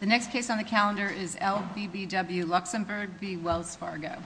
The next case on the calendar is LBBW Luxemburg v. Wells Fargo.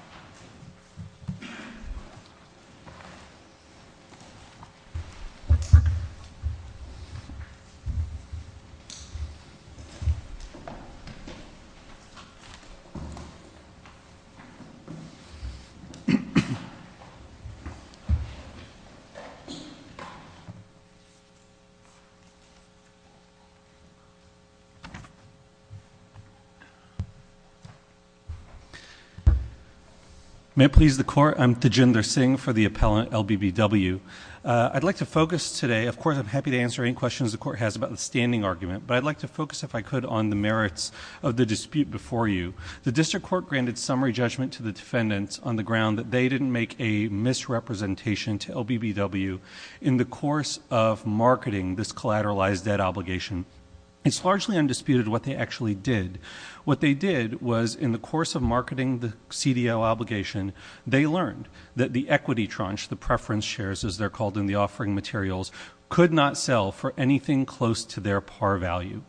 May it please the Court, I'm Tejinder Singh for the appellant LBBW. I'd like to focus today, of course I'm happy to answer any questions the Court has about the standing argument, but I'd like to focus, if I could, on the merits of the dispute before you. The District Court granted summary judgment to the defendants on the ground that they didn't make a misrepresentation to LBBW in the course of marketing this collateralized debt obligation. It's largely undisputed what they actually did. What they did was, in the course of marketing the CDO obligation, they learned that the equity tranche, the preference shares as they're called in the offering materials, could not sell for anything close to their par value.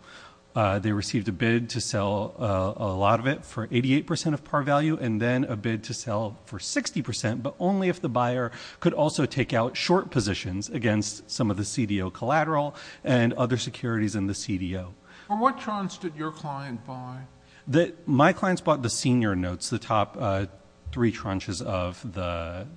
They received a bid to sell a lot of it for 88% of par value and then a bid to sell for 60%, but only if the buyer could also take out short positions against some of the CDO collateral and other securities in the CDO. For what tranche did your client buy? My clients bought the senior notes, the top three tranches of the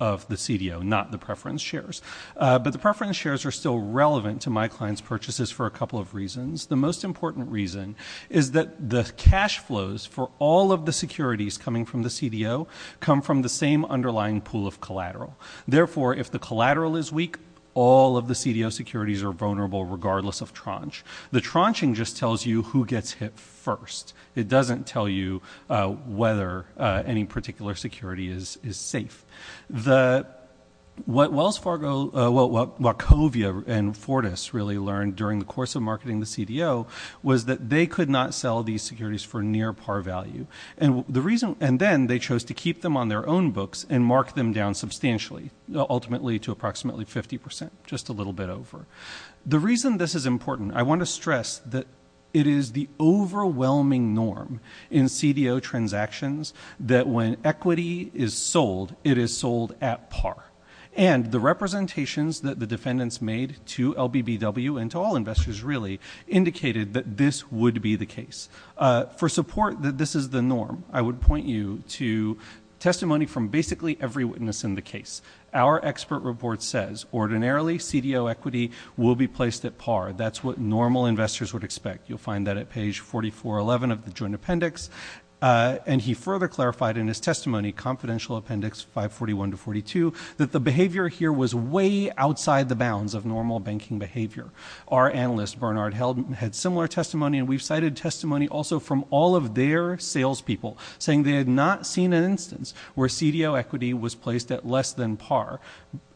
CDO, not the preference shares. But the preference shares are still relevant to my client's purchases for a couple of reasons. The most important reason is that the cash flows for all of the securities coming from the CDO come from the same underlying pool of collateral. Therefore, if the collateral is weak, all of the CDO securities are vulnerable regardless of tranche. The tranche just tells you who gets hit first. It doesn't tell you whether any particular security is safe. What Wachovia and Fortis really learned during the course of marketing the CDO was that they could not sell these securities for near par value. And then they chose to keep them on their own books and mark them down substantially, ultimately to approximately 50%, just a little bit over. The reason this is important, I want to stress that it is the overwhelming norm in CDO transactions that when equity is sold, it is sold at par. And the representations that the defendants made to LBBW and to all investors really indicated that this would be the case. For support that this is the norm, I would point you to testimony from basically every witness in the case. Our expert report says ordinarily CDO equity will be placed at par. That's what normal investors would expect. You'll find that at page 4411 of the joint appendix. And he further clarified in his testimony, confidential appendix 541 to 42, that the behavior here was way outside the bounds of normal banking behavior. Our analyst, Bernard Heldman, had similar testimony. And we've cited testimony also from all of their salespeople saying they had not seen an instance where CDO equity was placed at less than par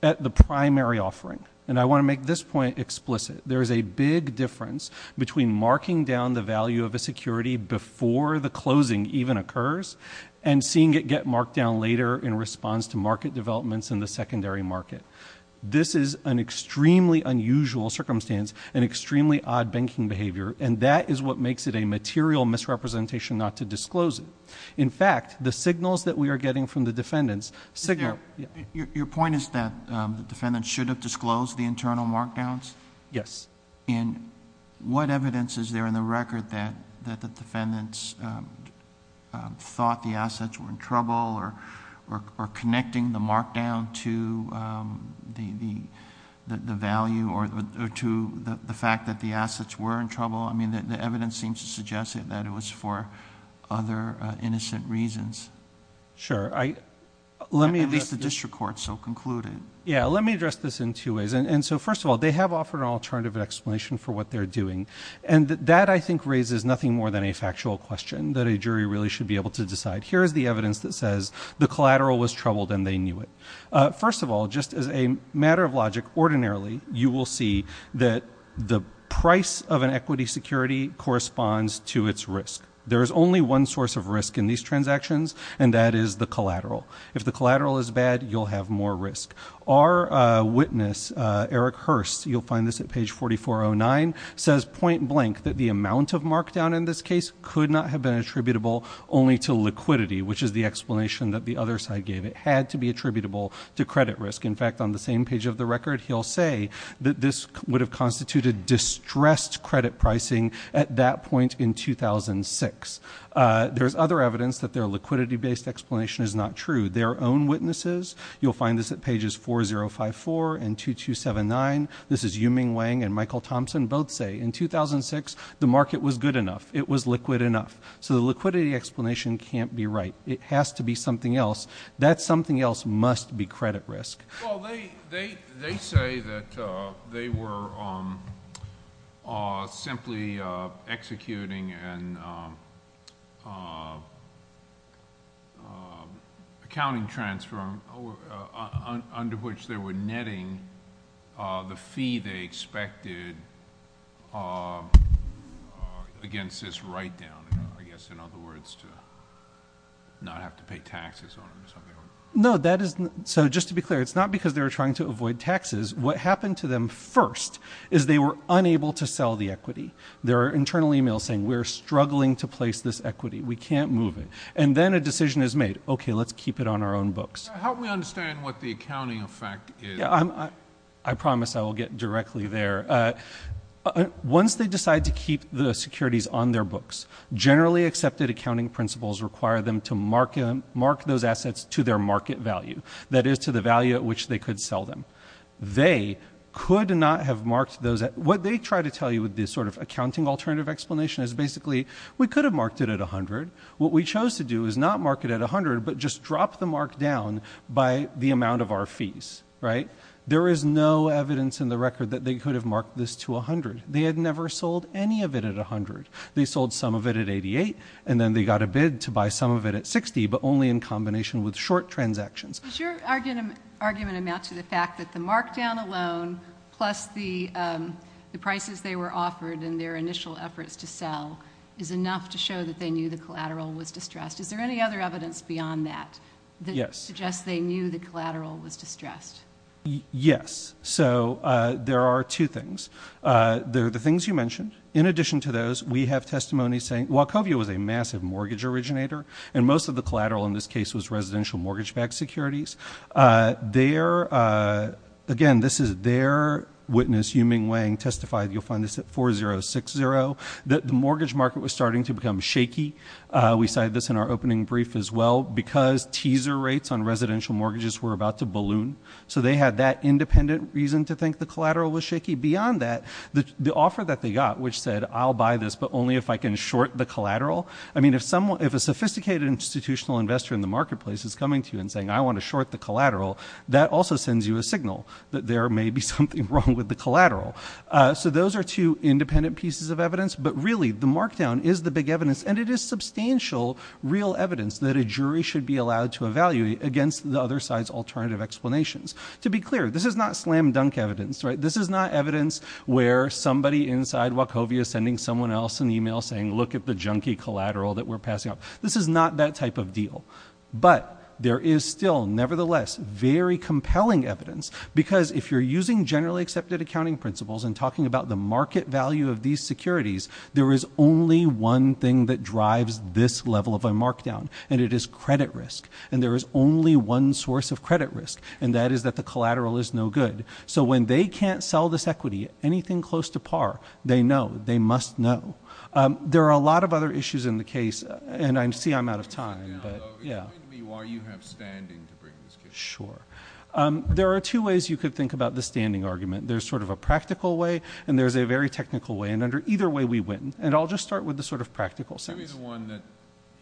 at the primary offering. And I want to make this point explicit. There is a big difference between marking down the value of a security before the closing even occurs and seeing it get marked down later in response to market developments in the secondary market. This is an extremely unusual circumstance and extremely odd banking behavior. And that is what makes it a material misrepresentation not to disclose it. In fact, the signals that we are getting from the defendants signal – Your point is that the defendants should have disclosed the internal markdowns? Yes. And what evidence is there in the record that the defendants thought the assets were in trouble or connecting the markdown to the value or to the fact that the assets were in trouble? I mean, the evidence seems to suggest that it was for other innocent reasons. Sure. At least the district court so concluded. Yeah. Let me address this in two ways. And so, first of all, they have offered an alternative explanation for what they're doing. And that, I think, raises nothing more than a factual question that a jury really should be able to decide. Here is the evidence that says the collateral was troubled and they knew it. First of all, just as a matter of logic, ordinarily, you will see that the price of an equity security corresponds to its risk. There is only one source of risk in these transactions, and that is the collateral. If the collateral is bad, you'll have more risk. Our witness, Eric Hurst, you'll find this at page 4409, says point blank that the amount of markdown in this case could not have been attributable only to liquidity, which is the explanation that the other side gave. It had to be attributable to credit risk. In fact, on the same page of the record, he'll say that this would have constituted distressed credit pricing at that point in 2006. There's other evidence that their liquidity-based explanation is not true. Their own witnesses, you'll find this at pages 4054 and 2279. This is Yu-Ming Wang and Michael Thompson. Both say in 2006, the market was good enough. It was liquid enough. So the liquidity explanation can't be right. It has to be something else. That something else must be credit risk. Well, they say that they were simply executing an accounting transfer under which they were netting the fee they expected against this write-down, I guess, in other words, to not have to pay taxes on them or something like that. So just to be clear, it's not because they were trying to avoid taxes. What happened to them first is they were unable to sell the equity. There are internal emails saying, we're struggling to place this equity. We can't move it. And then a decision is made, okay, let's keep it on our own books. How do we understand what the accounting effect is? I promise I will get directly there. Once they decide to keep the securities on their books, generally accepted accounting principles require them to mark those assets to their market value, that is, to the value at which they could sell them. They could not have marked those. What they try to tell you with this sort of accounting alternative explanation is basically, we could have marked it at 100. What we chose to do is not mark it at 100, but just drop the mark down by the amount of our fees, right? There is no evidence in the record that they could have marked this to 100. They had never sold any of it at 100. They sold some of it at 88, and then they got a bid to buy some of it at 60, but only in combination with short transactions. Does your argument amount to the fact that the markdown alone, plus the prices they were offered and their initial efforts to sell, is enough to show that they knew the collateral was distressed? Is there any other evidence beyond that that suggests they knew the collateral was distressed? Yes. So, there are two things. There are the things you mentioned. In addition to those, we have testimony saying, while COVIA was a massive mortgage originator, and most of the collateral in this case was residential mortgage-backed securities, their, again, this is their witness, Yu-Ming Wang, testified, you'll find this at 4060, that the mortgage market was starting to become shaky. We cited this in our opening brief as well, because teaser rates on residential mortgages were about to balloon. So, they had that independent reason to think the collateral was shaky. Beyond that, the offer that they got, which said, I'll buy this, but only if I can short the collateral. I mean, if a sophisticated institutional investor in the marketplace is coming to you and saying, I want to short the collateral, that also sends you a signal that there may be something wrong with the collateral. So, those are two independent pieces of evidence. But really, the markdown is the big evidence, and it is substantial real evidence that a jury should be allowed to evaluate against the other side's alternative explanations. To be clear, this is not slam-dunk evidence, right? This is not evidence where somebody inside Wachovia is sending someone else an email saying, look at the junky collateral that we're passing off. This is not that type of deal. But there is still, nevertheless, very compelling evidence. Because if you're using generally accepted accounting principles and talking about the market value of these securities, there is only one thing that drives this level of a markdown, and it is credit risk. And there is only one source of credit risk, and that is that the collateral is no good. So, when they can't sell this equity, anything close to par, they know, they must know. There are a lot of other issues in the case, and I see I'm out of time. Yeah. Explain to me why you have standing to bring this case. Sure. There are two ways you could think about the standing argument. There's sort of a practical way, and there's a very technical way. And either way, we win. And I'll just start with the sort of practical sense. Give me the one that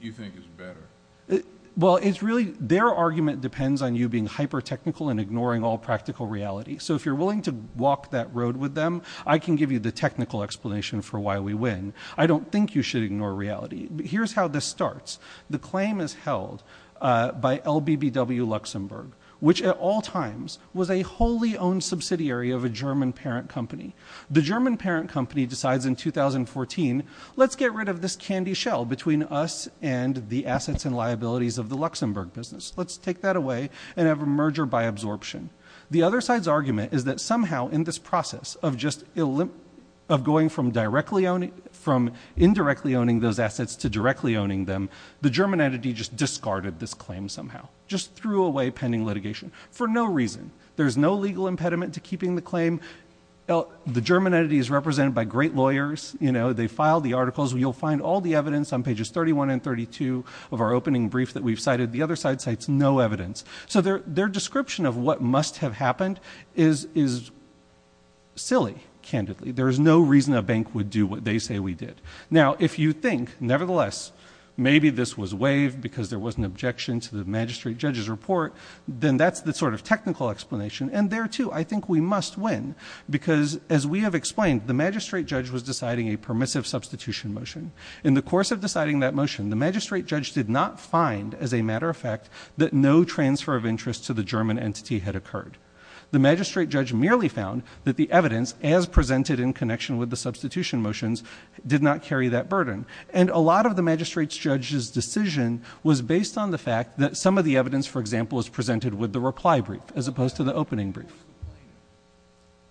you think is better. Well, it's really their argument depends on you being hyper-technical and ignoring all practical reality. So, if you're willing to walk that road with them, I can give you the technical explanation for why we win. I don't think you should ignore reality. Here's how this starts. The claim is held by LBBW Luxembourg, which at all times was a wholly owned subsidiary of a German parent company. The German parent company decides in 2014, let's get rid of this candy shell between us and the assets and liabilities of the Luxembourg business. Let's take that away and have a merger by absorption. The other side's argument is that somehow in this process of just going from indirectly owning those assets to directly owning them, the German entity just discarded this claim somehow, just threw away pending litigation for no reason. There's no legal impediment to keeping the claim. The German entity is represented by great lawyers. They file the articles. You'll find all the evidence on pages 31 and 32 of our opening brief that we've cited. The other side cites no evidence. So their description of what must have happened is silly, candidly. There is no reason a bank would do what they say we did. Now, if you think, nevertheless, maybe this was waived because there was an objection to the magistrate judge's report, then that's the sort of technical explanation. And there, too, I think we must win because, as we have explained, the magistrate judge was deciding a permissive substitution motion. In the course of deciding that motion, the magistrate judge did not find, as a matter of fact, that no transfer of interest to the German entity had occurred. The magistrate judge merely found that the evidence, as presented in connection with the substitution motions, did not carry that burden. And a lot of the magistrate judge's decision was based on the fact that some of the evidence, for example, was presented with the reply brief as opposed to the opening brief.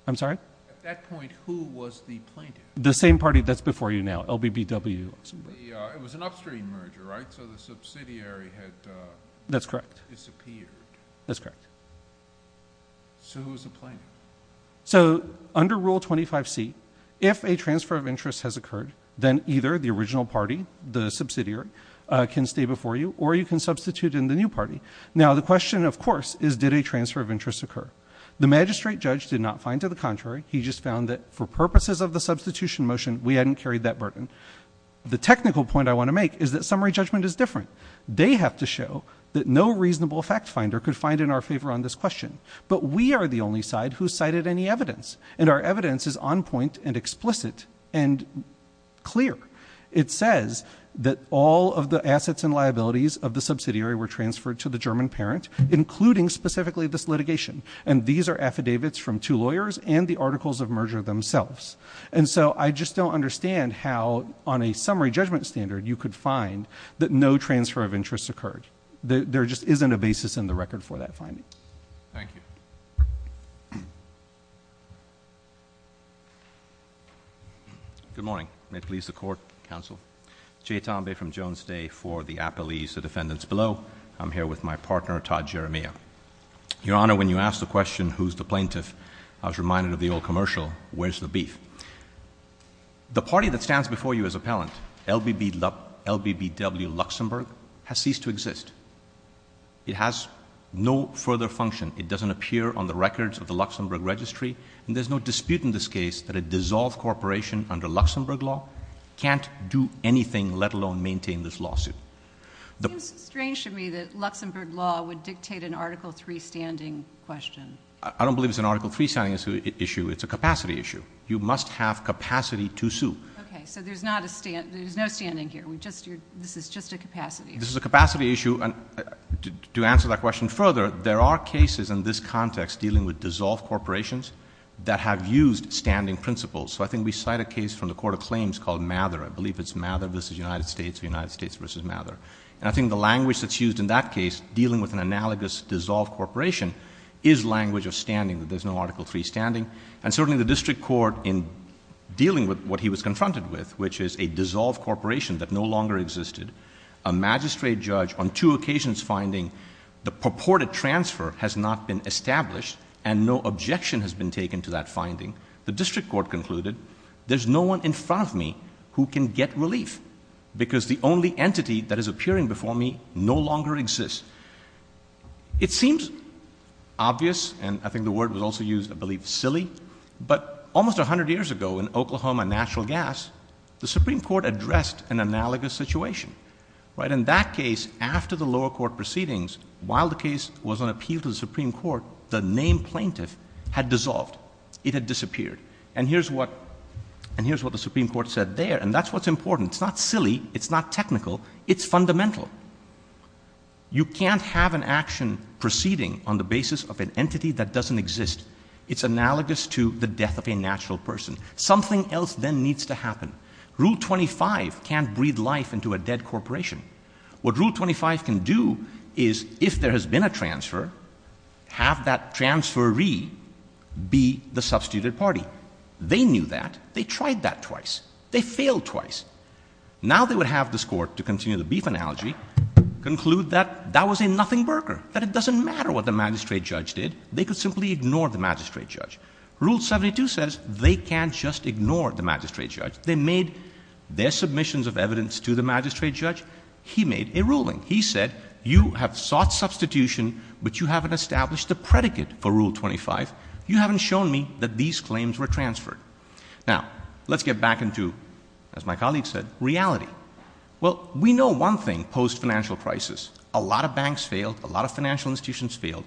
I'm sorry? At that point, who was the plaintiff? The same party that's before you now, LBBW. It was an upstream merger, right? So the subsidiary had disappeared. That's correct. That's correct. So who was the plaintiff? So under Rule 25C, if a transfer of interest has occurred, then either the original party, the subsidiary, can stay before you, or you can substitute in the new party. Now, the question, of course, is did a transfer of interest occur? The magistrate judge did not find, to the contrary. He just found that for purposes of the substitution motion, we hadn't carried that burden. The technical point I want to make is that summary judgment is different. They have to show that no reasonable fact finder could find in our favor on this question. But we are the only side who cited any evidence, and our evidence is on point and explicit and clear. It says that all of the assets and liabilities of the subsidiary were transferred to the German parent, including specifically this litigation. And these are affidavits from two lawyers and the articles of merger themselves. And so I just don't understand how, on a summary judgment standard, you could find that no transfer of interest occurred. There just isn't a basis in the record for that finding. Thank you. Good morning. May it please the Court, Counsel. Jay Tambay from Jones Day for the Appellees of Defendants Below. I'm here with my partner, Todd Jeremia. Your Honor, when you asked the question, who's the plaintiff, I was reminded of the old commercial, where's the beef? The party that stands before you as appellant, LBBW Luxembourg, has ceased to exist. It has no further function. It doesn't appear on the records of the Luxembourg registry. And there's no dispute in this case that a dissolved corporation under Luxembourg law can't do anything, let alone maintain this lawsuit. It seems strange to me that Luxembourg law would dictate an Article III standing question. I don't believe it's an Article III standing issue. It's a capacity issue. You must have capacity to sue. Okay. So there's no standing here. This is just a capacity issue. This is a capacity issue. To answer that question further, there are cases in this context dealing with dissolved corporations that have used standing principles. So I think we cite a case from the Court of Claims called Mather. I believe it's Mather v. United States or United States v. Mather. And I think the language that's used in that case, dealing with an analogous dissolved corporation, is language of standing, that there's no Article III standing. And certainly the district court, in dealing with what he was confronted with, which is a dissolved corporation that no longer existed, a magistrate judge on two occasions finding the purported transfer has not been established and no objection has been taken to that finding, the district court concluded, there's no one in front of me who can get relief because the only entity that is appearing before me no longer exists. It seems obvious, and I think the word was also used, I believe, silly, but almost 100 years ago in Oklahoma, natural gas, the Supreme Court addressed an analogous situation. In that case, after the lower court proceedings, while the case was on appeal to the Supreme Court, the name plaintiff had dissolved. It had disappeared. And here's what the Supreme Court said there, and that's what's important. It's not silly. It's not technical. It's fundamental. You can't have an action proceeding on the basis of an entity that doesn't exist. It's analogous to the death of a natural person. Something else then needs to happen. Rule 25 can't breed life into a dead corporation. What Rule 25 can do is, if there has been a transfer, have that transferee be the substituted party. They knew that. They tried that twice. They failed twice. Now they would have this court, to continue the beef analogy, conclude that that was a nothing burger, that it doesn't matter what the magistrate judge did. They could simply ignore the magistrate judge. Rule 72 says they can't just ignore the magistrate judge. They made their submissions of evidence to the magistrate judge. He made a ruling. He said, you have sought substitution, but you haven't established a predicate for Rule 25. You haven't shown me that these claims were transferred. Now, let's get back into, as my colleague said, reality. Well, we know one thing post-financial crisis. A lot of banks failed. A lot of financial institutions failed.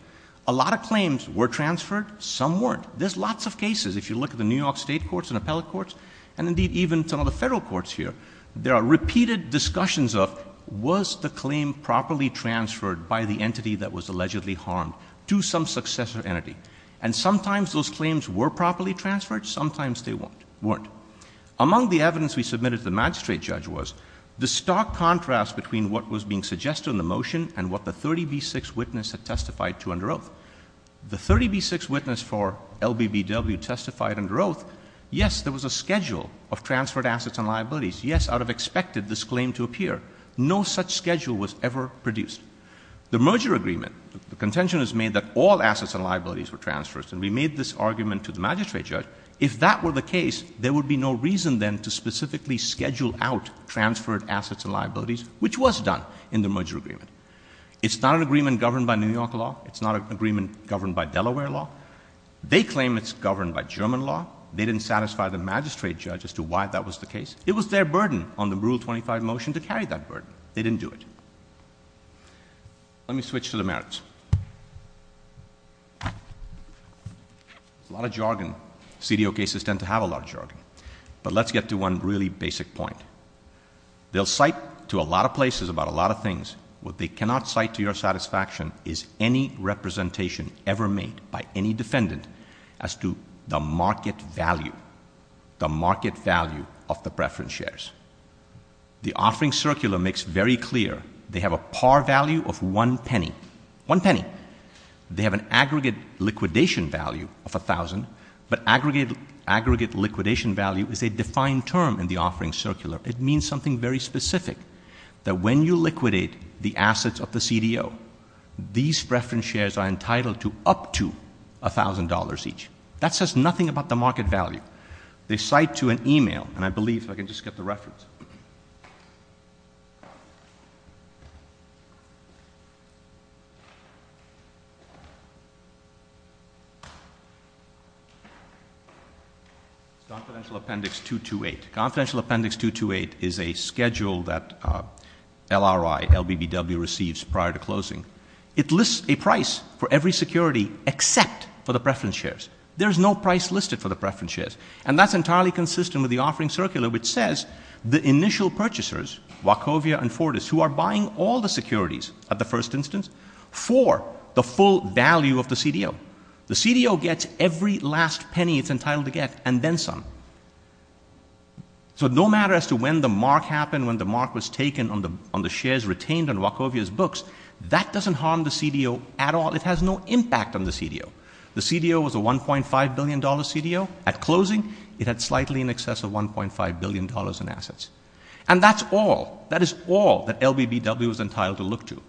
A lot of claims were transferred. Some weren't. There's lots of cases. If you look at the New York state courts and appellate courts, and indeed even some of the federal courts here, there are repeated discussions of, was the claim properly transferred by the entity that was allegedly harmed to some successor entity? And sometimes those claims were properly transferred. Sometimes they weren't. Among the evidence we submitted to the magistrate judge was the stark contrast between what was being suggested in the motion and what the 30B6 witness had testified to under oath. The 30B6 witness for LBBW testified under oath, yes, there was a schedule of transferred assets and liabilities. Yes, out of expected, this claim to appear. No such schedule was ever produced. The merger agreement, the contention is made that all assets and liabilities were transferred, and we made this argument to the magistrate judge. If that were the case, there would be no reason then to specifically schedule out transferred assets and liabilities, which was done in the merger agreement. It's not an agreement governed by New York law. It's not an agreement governed by Delaware law. They claim it's governed by German law. They didn't satisfy the magistrate judge as to why that was the case. It was their burden on the Rule 25 motion to carry that burden. They didn't do it. Let me switch to the merits. A lot of jargon. CDO cases tend to have a lot of jargon. But let's get to one really basic point. They'll cite to a lot of places about a lot of things. What they cannot cite to your satisfaction is any representation ever made by any defendant as to the market value, the market value of the preference shares. The offering circular makes very clear they have a par value of one penny, one penny. They have an aggregate liquidation value of 1,000, but aggregate liquidation value is a defined term in the offering circular. It means something very specific, that when you liquidate the assets of the CDO, these preference shares are entitled to up to $1,000 each. That says nothing about the market value. They cite to an e-mail, and I believe, if I can just get the reference. It's confidential appendix 228. Confidential appendix 228 is a schedule that LRI, LBBW, receives prior to closing. It lists a price for every security except for the preference shares. There is no price listed for the preference shares. And that's entirely consistent with the offering circular, which says the initial purchasers, Wachovia and Fortis, who are buying all the securities at the first instance, for the full value of the CDO. The CDO gets every last penny it's entitled to get, and then some. So no matter as to when the mark happened, when the mark was taken on the shares retained on Wachovia's books, that doesn't harm the CDO at all. It has no impact on the CDO. The CDO was a $1.5 billion CDO. At closing, it had slightly in excess of $1.5 billion in assets. And that's all, that is all that LBBW is entitled to look to.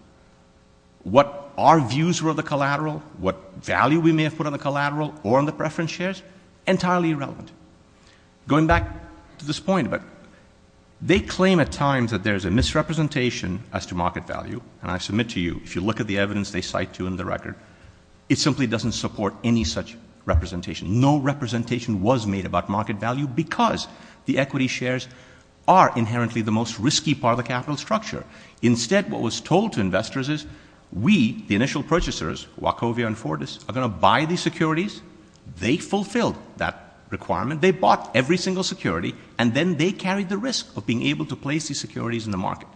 What our views were of the collateral, what value we may have put on the collateral or on the preference shares, entirely irrelevant. Going back to this point, they claim at times that there is a misrepresentation as to market value. And I submit to you, if you look at the evidence they cite to in the record, it simply doesn't support any such representation. No representation was made about market value because the equity shares are inherently the most risky part of the capital structure. Instead, what was told to investors is we, the initial purchasers, Wachovia and Fortis, are going to buy these securities. They fulfilled that requirement. They bought every single security. And then they carried the risk of being able to place these securities in the market.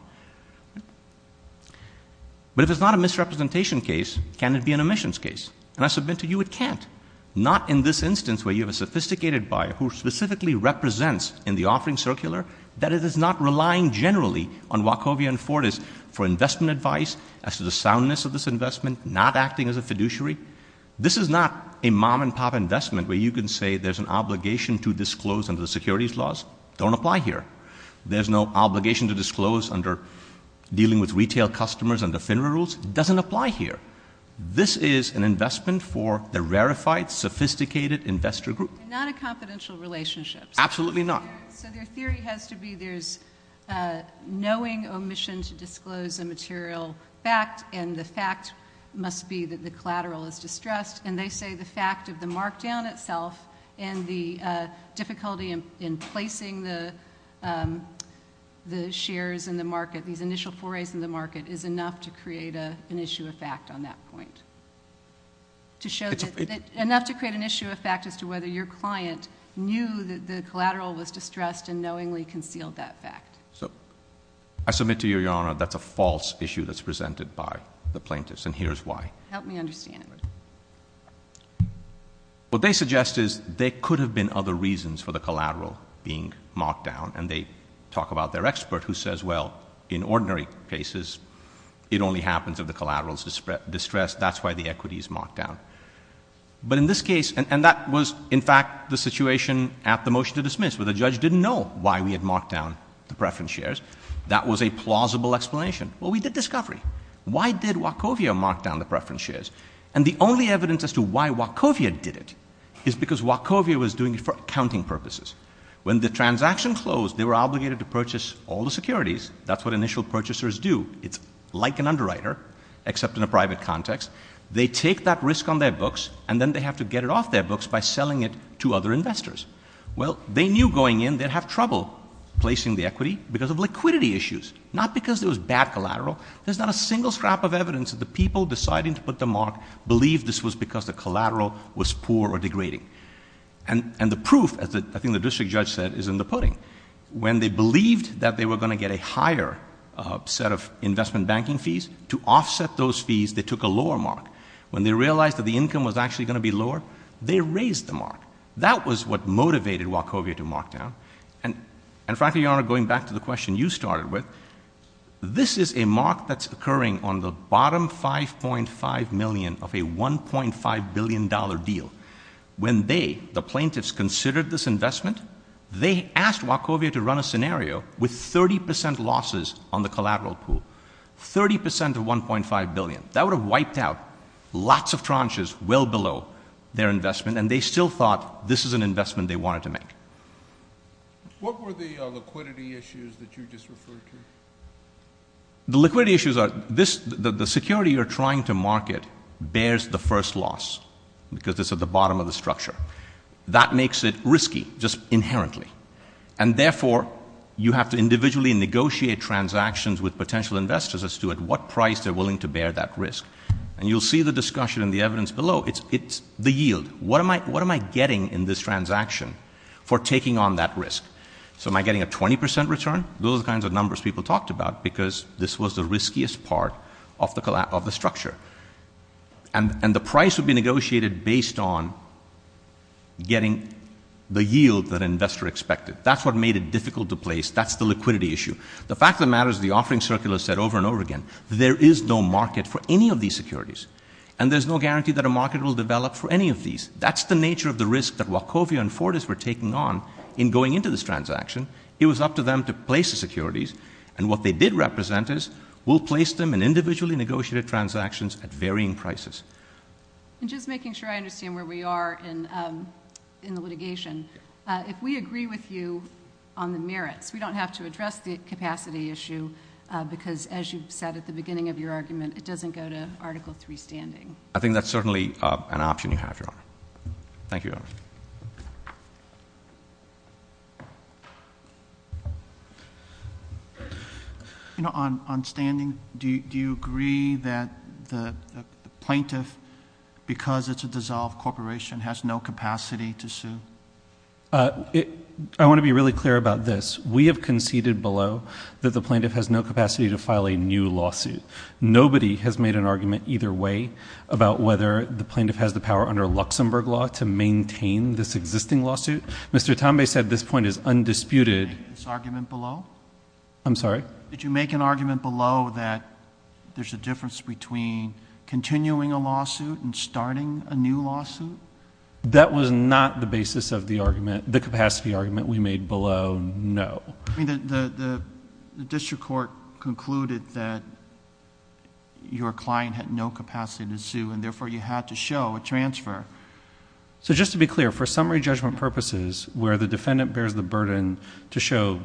But if it's not a misrepresentation case, can it be an omissions case? And I submit to you, it can't. Not in this instance where you have a sophisticated buyer who specifically represents in the offering circular that it is not relying generally on Wachovia and Fortis for investment advice as to the soundness of this investment, not acting as a fiduciary. This is not a mom-and-pop investment where you can say there's an obligation to disclose under the securities laws. Don't apply here. There's no obligation to disclose under dealing with retail customers under FINRA rules. Doesn't apply here. This is an investment for the rarefied, sophisticated investor group. Not a confidential relationship. Absolutely not. So their theory has to be there's knowing omission to disclose a material fact, and the fact must be that the collateral is distressed. And they say the fact of the markdown itself and the difficulty in placing the shares in the market, these initial forays in the market, is enough to create an issue of fact on that point. Enough to create an issue of fact as to whether your client knew that the collateral was distressed and knowingly concealed that fact. I submit to you, Your Honor, that's a false issue that's presented by the plaintiffs, and here's why. Help me understand. What they suggest is there could have been other reasons for the collateral being marked down, and they talk about their expert who says, well, in ordinary cases, it only happens if the collateral is distressed. That's why the equity is marked down. But in this case, and that was, in fact, the situation at the motion to dismiss, where the judge didn't know why we had marked down the preference shares. That was a plausible explanation. Well, we did discovery. Why did Wachovia mark down the preference shares? And the only evidence as to why Wachovia did it is because Wachovia was doing it for accounting purposes. When the transaction closed, they were obligated to purchase all the securities. That's what initial purchasers do. It's like an underwriter, except in a private context. They take that risk on their books, and then they have to get it off their books by selling it to other investors. Well, they knew going in they'd have trouble placing the equity because of liquidity issues, not because there was bad collateral. There's not a single scrap of evidence that the people deciding to put the mark believed this was because the collateral was poor or degrading. And the proof, as I think the district judge said, is in the pudding. When they believed that they were going to get a higher set of investment banking fees, to offset those fees, they took a lower mark. When they realized that the income was actually going to be lower, they raised the mark. That was what motivated Wachovia to mark down. And frankly, Your Honor, going back to the question you started with, this is a mark that's occurring on the bottom $5.5 million of a $1.5 billion deal. When they, the plaintiffs, considered this investment, they asked Wachovia to run a scenario with 30% losses on the collateral pool. 30% of $1.5 billion. That would have wiped out lots of tranches well below their investment, and they still thought this is an investment they wanted to make. What were the liquidity issues that you just referred to? The liquidity issues are, the security you're trying to market bears the first loss, because it's at the bottom of the structure. That makes it risky, just inherently. And therefore, you have to individually negotiate transactions with potential investors as to at what price they're willing to bear that risk. And you'll see the discussion in the evidence below, it's the yield. What am I getting in this transaction for taking on that risk? So am I getting a 20% return? Those are the kinds of numbers people talked about, because this was the riskiest part of the structure. And the price would be negotiated based on getting the yield that an investor expected. That's what made it difficult to place. That's the liquidity issue. The fact of the matter is the offering circular said over and over again, there is no market for any of these securities, and there's no guarantee that a market will develop for any of these. That's the nature of the risk that Wachovia and Fortis were taking on in going into this transaction. It was up to them to place the securities. And what they did represent is we'll place them in individually negotiated transactions at varying prices. And just making sure I understand where we are in the litigation, if we agree with you on the merits, we don't have to address the capacity issue because, as you said at the beginning of your argument, it doesn't go to Article III standing. I think that's certainly an option you have, Your Honor. Thank you, Your Honor. On standing, do you agree that the plaintiff, because it's a dissolved corporation, has no capacity to sue? I want to be really clear about this. We have conceded below that the plaintiff has no capacity to file a new lawsuit. Nobody has made an argument either way about whether the plaintiff has the power under Luxembourg law to maintain this existing lawsuit. Mr. Tambay said this point is undisputed. Did you make this argument below? I'm sorry? Did you make an argument below that there's a difference between continuing a lawsuit and starting a new lawsuit? That was not the basis of the argument, the capacity argument we made below, no. The district court concluded that your client had no capacity to sue and therefore you had to show a transfer. Just to be clear, for summary judgment purposes where the defendant bears the burden to show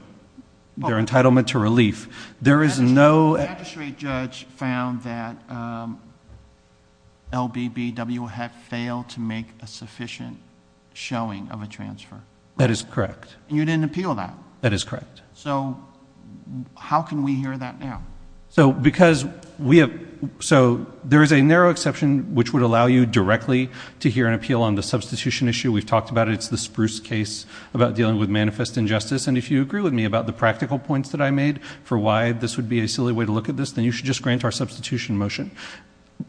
their entitlement to relief, there is no... The magistrate judge found that LBBW had failed to make a sufficient showing of a transfer. That is correct. You didn't appeal that? That is correct. How can we hear that now? There is a narrow exception which would allow you directly to hear an appeal on the substitution issue. We've talked about it. It's the Spruce case about dealing with manifest injustice. If you agree with me about the practical points that I made for why this would be a silly way to look at this, then you should just grant our substitution motion.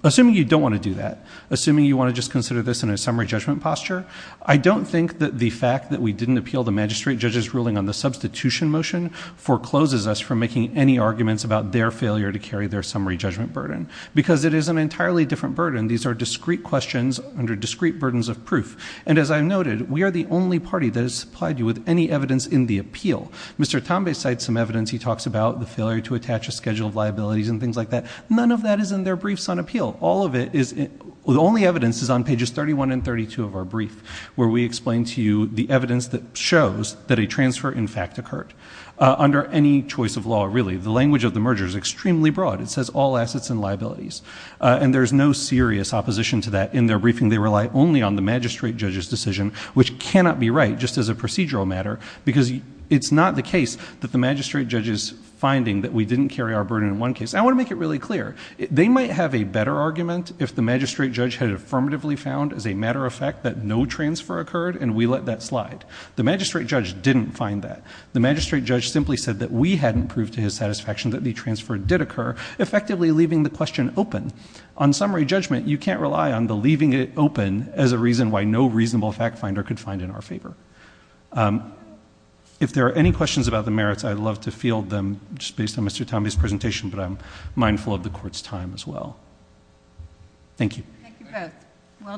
Assuming you don't want to do that, assuming you want to just consider this in a summary judgment posture, I don't think that the fact that we didn't appeal the magistrate judge's ruling on the substitution motion forecloses us from making any arguments about their failure to carry their summary judgment burden. Because it is an entirely different burden. These are discrete questions under discrete burdens of proof. And as I noted, we are the only party that has supplied you with any evidence in the appeal. Mr. Tambay cites some evidence. He talks about the failure to attach a schedule of liabilities and things like that. None of that is in their briefs on appeal. The only evidence is on pages 31 and 32 of our brief, where we explain to you the evidence that shows that a transfer, in fact, occurred. Under any choice of law, really, the language of the merger is extremely broad. It says all assets and liabilities. And there's no serious opposition to that in their briefing. They rely only on the magistrate judge's decision, which cannot be right just as a procedural matter, because it's not the case that the magistrate judge is finding that we didn't carry our burden in one case. I want to make it really clear. They might have a better argument if the magistrate judge had affirmatively found, as a matter of fact, that no transfer occurred, and we let that slide. The magistrate judge didn't find that. The magistrate judge simply said that we hadn't proved to his satisfaction that the transfer did occur, effectively leaving the question open. On summary judgment, you can't rely on the leaving it open as a reason why no reasonable fact finder could find in our favor. If there are any questions about the merits, I'd love to field them just based on Mr. Tambi's presentation, but I'm mindful of the court's time as well. Thank you. Thank you both. Well done.